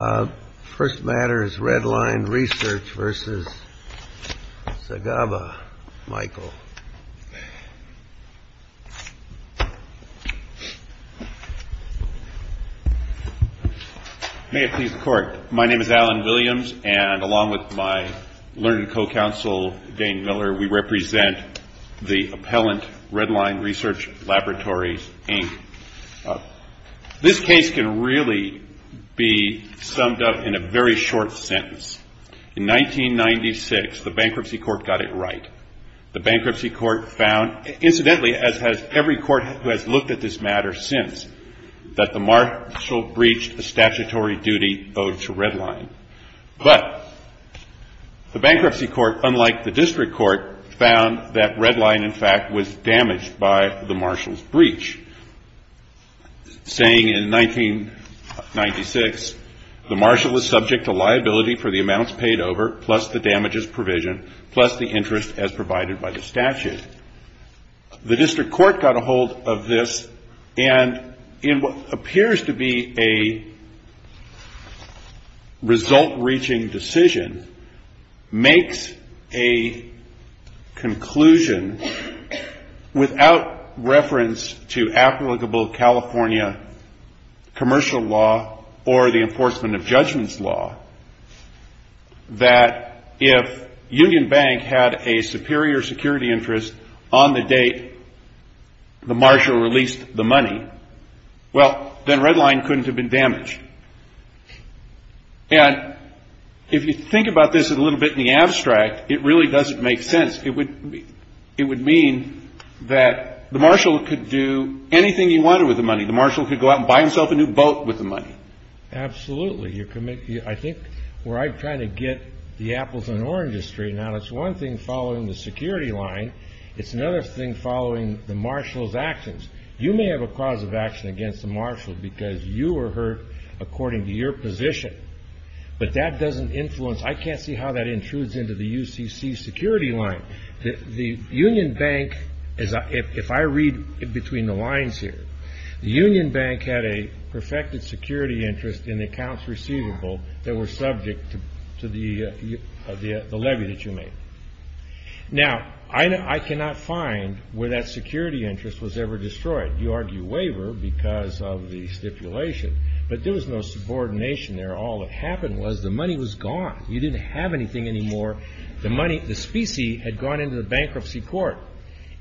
My name is Alan Williams, and along with my learned co-counsel, Dane Miller, we represent the appellant Red Line Research Laboratories, Inc. This case can really be summed up in a very short sentence. In 1996, the Bankruptcy Court got it right. The Bankruptcy Court found, incidentally, as has every court who has looked at this matter since, that the marshal breached a statutory duty owed to Red Line. But the Bankruptcy Court, unlike the District Court, found that Red Line, in fact, was damaged by the marshal's breach, saying in 1996, the marshal is subject to liability for the amounts paid over, plus the damages provisioned, plus the interest as provided by the statute. The District Court got a hold of this, and in what appears to be a result-reaching decision, makes a conclusion, without reference to applicable California commercial law or the enforcement of judgments law, that if Union Bank had a superior security interest on the date the marshal released the money, well, then Red Line couldn't have been damaged. And if you think about this a little bit in the abstract, it really doesn't make sense. It would mean that the marshal could do anything he wanted with the money. The marshal could go out and buy himself a new boat with the money. Absolutely. I think where I try to get the apples and oranges straightened out, it's one thing following the security line. It's another thing following the marshal's actions. You may have a cause of action against the marshal because you were hurt according to your position, but that doesn't influence... I can't see how that intrudes into the UCC security line. If I read between the lines here, Union Bank had a perfected security interest in the accounts receivable that were subject to the levy that you made. Now, I cannot find where that security interest was ever destroyed. You argue waiver because of the stipulation, but there was no subordination there. All that happened was the money was gone. You didn't have anything anymore. The money, the specie, had gone into the bankruptcy court.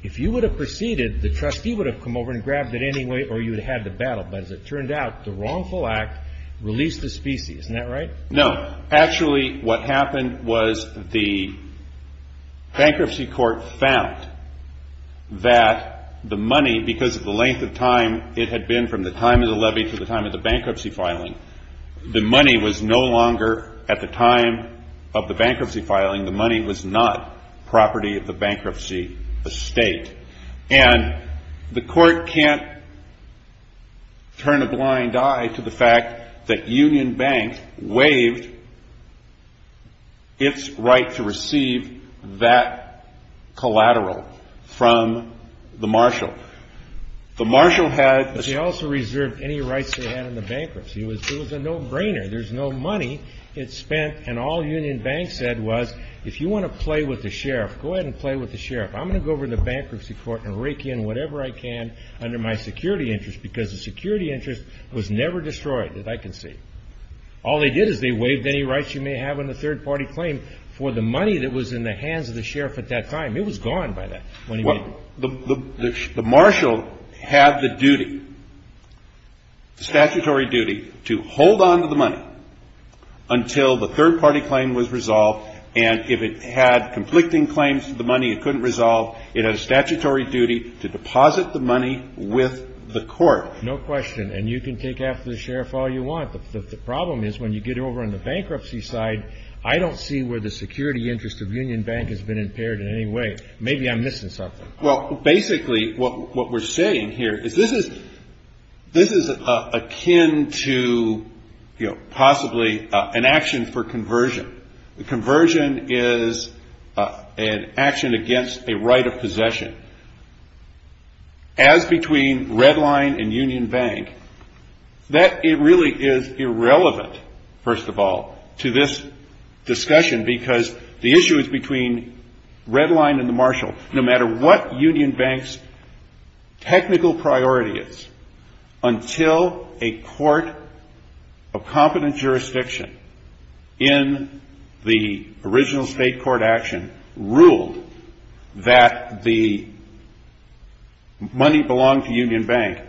If you would have proceeded, the trustee would have come over and grabbed it anyway, or you would have had the battle. But as it turned out, the wrongful act released the specie. Isn't that right? No. Actually, what happened was the bankruptcy court found that the money, because of the length of time it had been from the time of the levy to the time of the bankruptcy filing, the money was no longer, at the time of the bankruptcy filing, the money was not property of the bankruptcy estate. And the court can't turn a blind eye to the fact that Union Bank waived its right to receive that collateral from the marshal. The marshal had... But they also reserved any rights they had in the bankruptcy. It was a no-brainer. There's no money it spent, and all Union Bank said was, if you want to play with the sheriff, go ahead and play with the sheriff. I'm going to go over to the bankruptcy court and rake in whatever I can under my security interest because the security interest was never destroyed, as I can see. All they did is they waived any rights you may have in the third-party claim for the money that was in the hands of the sheriff at that time. It was gone by that, when he made it. The marshal had the duty, statutory duty, to hold on to the money until the third-party claim was resolved. And if it had conflicting claims to the money it couldn't resolve, it had a statutory duty to deposit the money with the court. No question. And you can take after the sheriff all you want. The problem is, when you get over on the bankruptcy side, I don't see where the security interest of Union Bank has been impaired in any way. Maybe I'm missing something. Well, basically, what we're saying here is this is akin to, you know, possibly an action for conversion. The conversion is an action against a right of possession. As between Redline and Union Bank, that really is irrelevant, first of all, to this discussion, because the issue is between Redline and the marshal. No matter what Union Bank's technical priority is, until a court of competent jurisdiction in the original state court action ruled that the money belonged to Union Bank,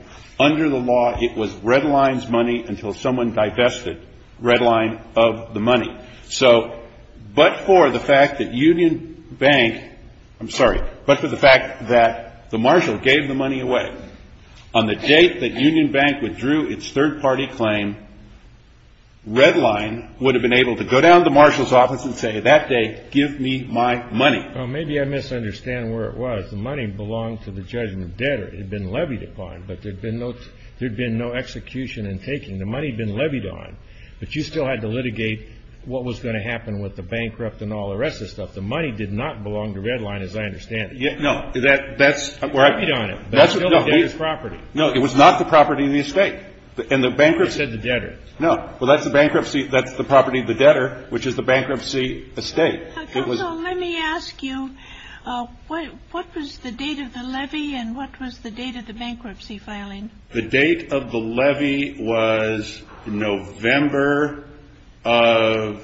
under the law it was Redline's money until someone divested Redline of the money. So but for the fact that Union Bank — I'm sorry, but for the fact that the marshal gave the money away, on the date that Union Bank withdrew its third-party claim, Redline would have been able to go down to the marshal's office and say, that day, give me my money. Well, maybe I misunderstand where it was. The money belonged to the judgment debtor. It had been levied upon, but there'd been no execution in taking. The money had been levied on, but you still had to litigate what was going to happen with the bankrupt and all the rest of the stuff. The money did not belong to Redline, as I understand it. Yeah, no, that's where I — Levied on it, but it's still the debtor's property. No, it was not the property of the estate. And the bankruptcy — You said the debtor. No. Well, that's the bankruptcy — that's the property of the debtor, which is the bankruptcy estate. It was — Counsel, let me ask you, what was the date of the levy and what was the date of the bankruptcy filing? The date of the levy was November of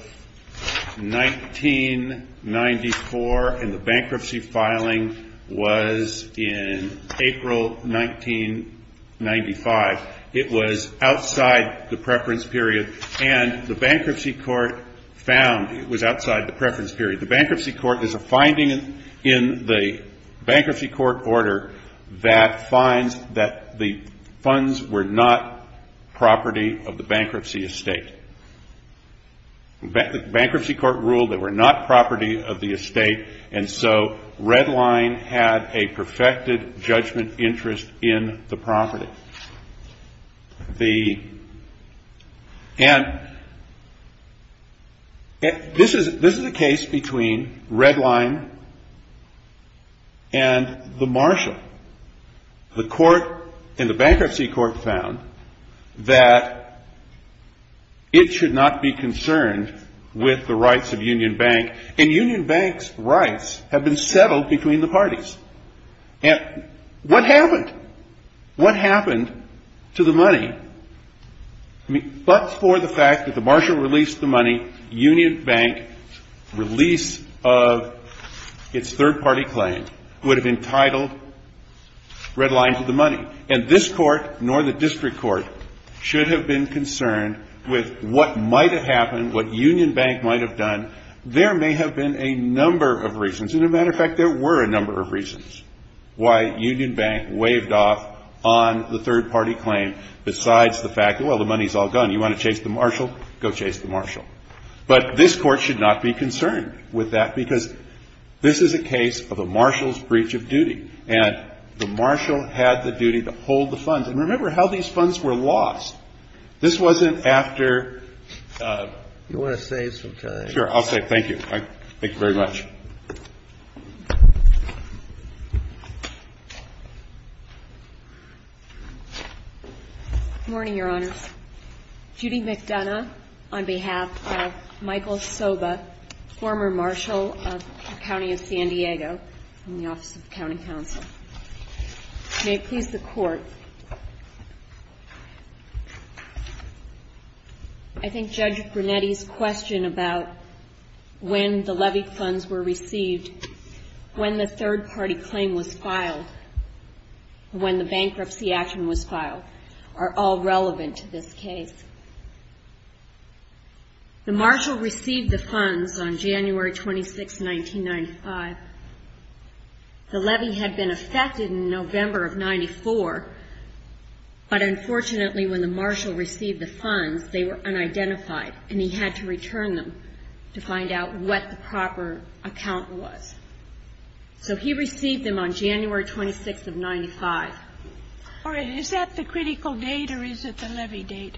1994, and the bankruptcy filing was in April 1995. It was outside the preference period, and the bankruptcy court found it was outside the preference period. The bankruptcy court — there's a finding in the bankruptcy court order that finds that the funds were not property of the bankruptcy estate. Bankruptcy court ruled they were not property of the estate, and so Redline had a perfected interest in the property. And this is a case between Redline and the marshal. The court and the bankruptcy court found that it should not be concerned with the rights of Union Bank, and Union Bank's rights have been settled between the parties. And what happened? What happened to the money? I mean, but for the fact that the marshal released the money, Union Bank, release of its third-party claim, would have entitled Redline to the money. And this court, nor the district court, should have been concerned with what might have happened, what Union Bank might have done. There may have been a number of reasons. As a matter of fact, there were a number of reasons why Union Bank waved off on the third-party claim besides the fact, well, the money's all gone. You want to chase the marshal? Go chase the marshal. But this court should not be concerned with that, because this is a case of a marshal's breach of duty, and the marshal had the duty to hold the funds. And remember how these funds were lost. This wasn't after — You want to save some time? Sure. I'll save — thank you. Thank you very much. Good morning, Your Honors. Judy McDonough on behalf of Michael Soba, former marshal of the County of San Diego in the Office of the County Counsel. May it please the Court, I think Judge Brunetti's question about when the levy funds were received, when the third-party claim was filed, when the bankruptcy action was filed, are all relevant to this case. The marshal received the funds on January 26, 1995. The levy had been affected in November of 1994, but unfortunately when the marshal received the funds, they were unidentified, and he had to return them to find out what the proper account was. So he received them on January 26 of 1995. All right. Is that the critical date, or is it the levy date?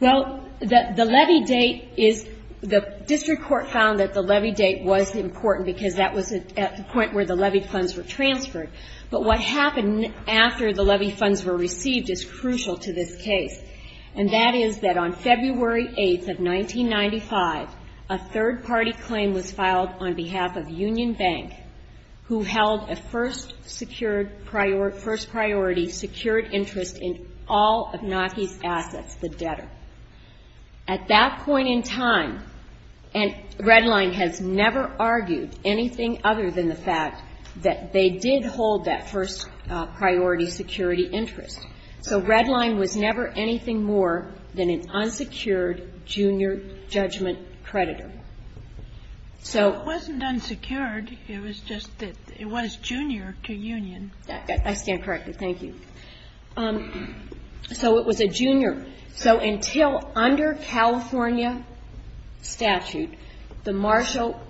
Well, the levy date is — the district court found that the levy date was important, because that was at the point where the levy funds were transferred. But what happened after the levy funds were received is crucial to this case, and that is that on February 8 of 1995, a third-party claim was filed on behalf of Union Bank, who held a first-priority secured interest in all of Naki's assets, the debtor. At that point in time — and that's the only time that I can remember — the red line was never anything other than the fact that they did hold that first-priority security interest. So red line was never anything more than an unsecured junior judgment creditor. So — It wasn't unsecured. It was just — it was junior to Union. I stand corrected. Thank you. So it was a junior. So until under California statute, the marshal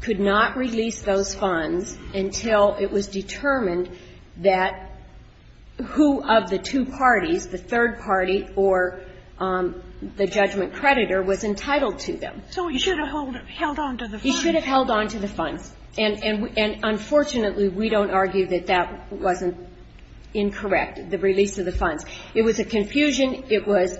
could not release those funds until it was determined that who of the two parties, the third party or the judgment creditor, was entitled to them. He should have held on to the funds. And unfortunately, we don't argue that that wasn't incorrect, the release of the funds. It was a confusion. It was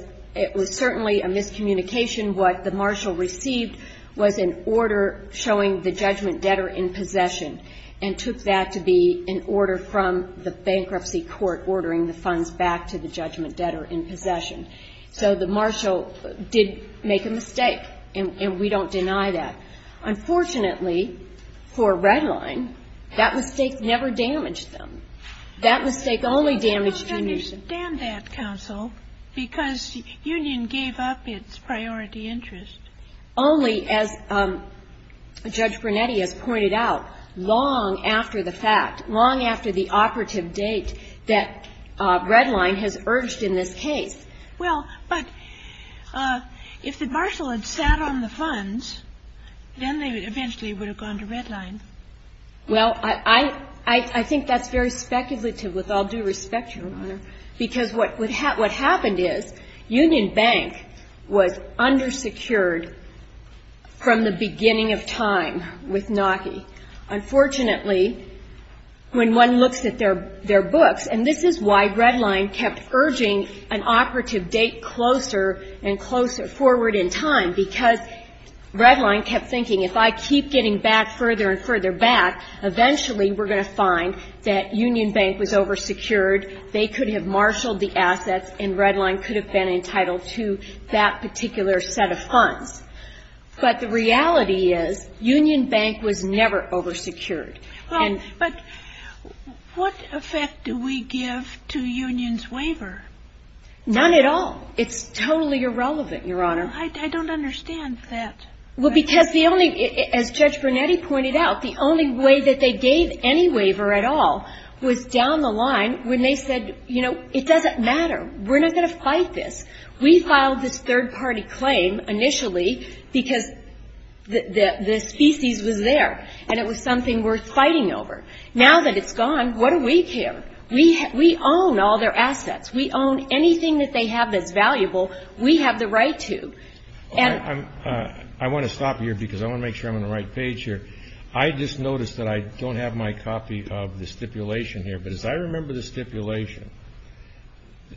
certainly a miscommunication. What the marshal received was an order showing the judgment debtor in possession and took that to be an order from the bankruptcy court ordering the funds back to the judgment debtor in possession. So the marshal did make a Unfortunately, for red line, that mistake never damaged them. That mistake only damaged Union. I understand that, counsel, because Union gave up its priority interest. Only, as Judge Brunetti has pointed out, long after the fact, long after the operative date that red line has urged in this case. Well, but if the marshal had sat on the funds, then they eventually would have gone to red line. Well, I think that's very speculative with all due respect, Your Honor, because what happened is Union Bank was undersecured from the beginning of time with NACI. Unfortunately, when one looks at their books, and this is why red line kept urging an operative date closer and closer forward in time, because red line kept thinking, if I keep getting back further and further back, eventually we're going to find that Union Bank was oversecured, they could have marshaled the assets, and red line could have been entitled to that particular set of funds. But the reality is Union Bank was never oversecured. Well, but what effect do we give to Union's waiver? None at all. It's totally irrelevant, Your Honor. I don't understand that. Well, because the only, as Judge Brunetti pointed out, the only way that they gave any waiver at all was down the line when they said, you know, it doesn't matter. We're not going to fight this. We filed this third-party claim initially because the species was there, and it was something worth fighting over. Now that it's gone, what do we care? We own all their assets. We own anything that they have that's valuable. We have the right to, and I want to stop here because I want to make sure I'm on the right page here. I just noticed that I don't have my copy of the stipulation here, but as I remember the stipulation,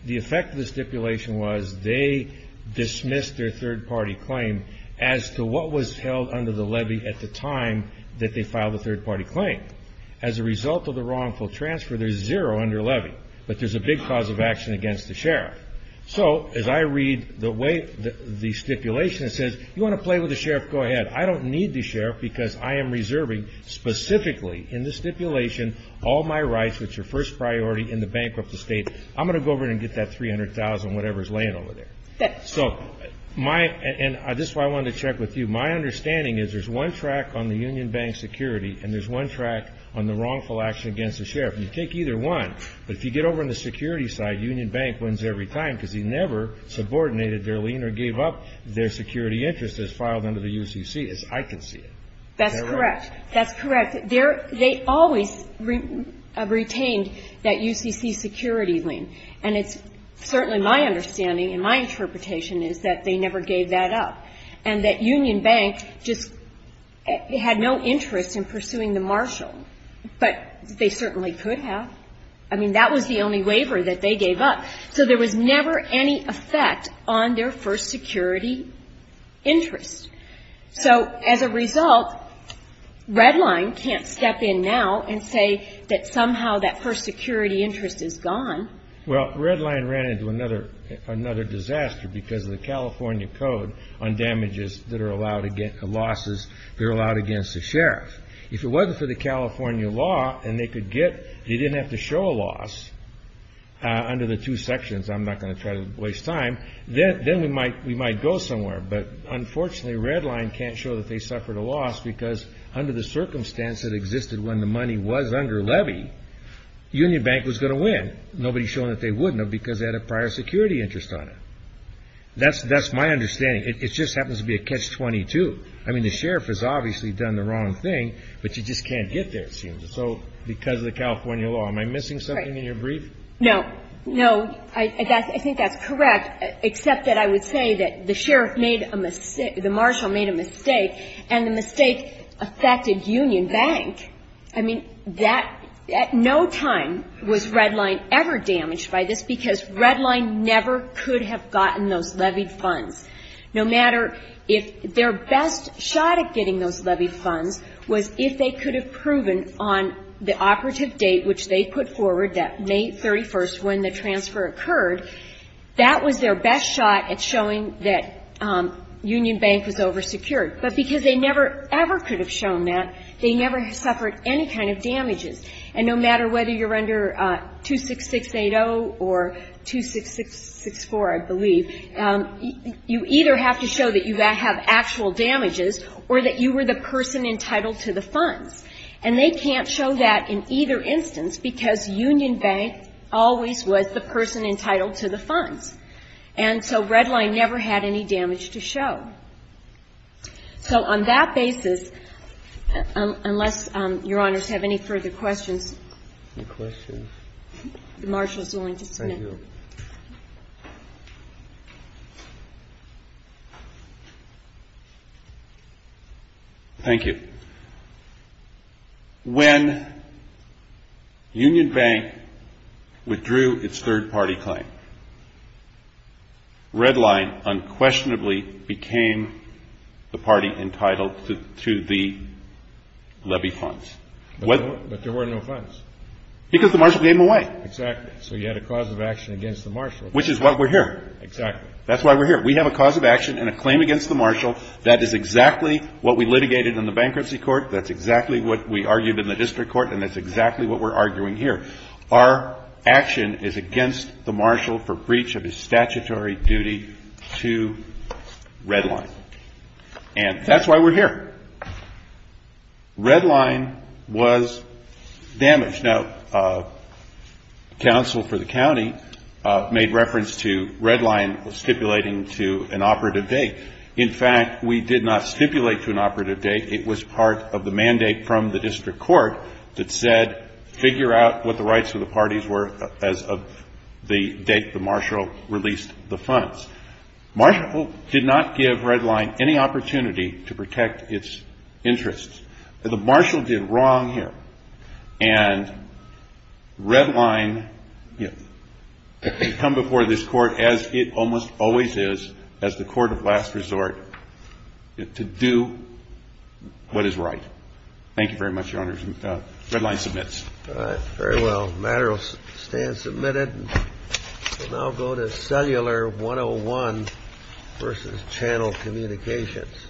the effect of the stipulation was they dismissed their third-party claim as to what was held under the levy at the time that they filed a third-party claim. As a result of the wrongful transfer, there's zero under levy, but there's a big cause of action against the sheriff. So as I read the way the stipulation says, you want to play with the sheriff? Go ahead. I don't need the sheriff because I am reserving specifically in the stipulation all my rights, which are first priority in the bankrupt state. I'm going to go over and get that $300,000, whatever is laying over there. This is why I wanted to check with you. My understanding is there's one track on the Union Bank security and there's one track on the wrongful action against the sheriff. You take either one, but if you get over on the security side, Union Bank wins every time because he never subordinated their lien or gave up their security interest as filed under the UCC, as I can see it. That's correct. That's correct. They always retained that UCC security lien, and it's certainly my understanding and my interpretation is that they never gave that up and that Union Bank just had no interest in pursuing the marshal, but they certainly could have. I mean, that was the only waiver that they gave up. So there was never any effect on their first security interest. So as a result, Redline can't step in now and say that somehow that first security interest is gone. Well, Redline ran into another disaster because of the California Code on damages that are allowed against losses that are allowed against the sheriff. If it wasn't for the California law and they didn't have to show a loss under the two sections, I'm not going to try to waste time, then we might go somewhere. But unfortunately, Redline can't show that they suffered a loss because under the circumstance that existed when the money was under levy, Union Bank was going to win. Nobody's showing that they wouldn't have because they had a prior security interest on it. That's my understanding. It just happens to be a catch-22. I mean, the sheriff has obviously done the wrong thing, but you just can't get there, it seems. So because of the California law, am I missing something in your brief? No. No. I think that's correct, except that I would say that the sheriff made a mistake, the marshal made a mistake, and the mistake affected Union Bank. I mean, that, at no time was Redline ever damaged by this because Redline never could have gotten those levied funds. No matter if their best shot at getting those levied funds was if they could have proven on the operative date which they put forward, that May 31st when the transfer occurred, that was their best shot at showing that Union Bank was oversecured. But because they never ever could have shown that, they never suffered any kind of damages. And no matter whether you're under 26680 or 2664, I believe, you either have to show that you have actual damages or that you were the person entitled to the funds. And they can't show that in either instance because Union Bank always was the person entitled to the funds, and they didn't have any damage to show. So on that basis, unless your honors have any further questions, the marshal is willing to submit them. Thank you. When Union Bank withdrew its third party claim, Redline unquestionably became the party entitled to the levy funds. But there were no funds. Because the marshal gave them away. Exactly. So you had a cause of action against the marshal. Which is why we're here. Exactly. That's why we're here. We have a cause of action and a claim against the marshal. That is exactly what we litigated in the bankruptcy court. That's exactly what we argued in the district court. And that's exactly what we're arguing here. Our action is against the marshal for the reason Redline. And that's why we're here. Redline was damaged. Now, counsel for the county made reference to Redline stipulating to an operative date. In fact, we did not stipulate to an operative date. It was part of the mandate from the district court that said, figure out what the rights of the parties were as of the date the marshal released the funds. Marshal did not give Redline any opportunity to protect its interests. The marshal did wrong here. And Redline has come before this court as it almost always is, as the court of last resort, to do what is right. Thank you very much, Your Honor. Redline submits. All right. Very well. The matter will stand submitted. We'll now go to channel communications. Thank you.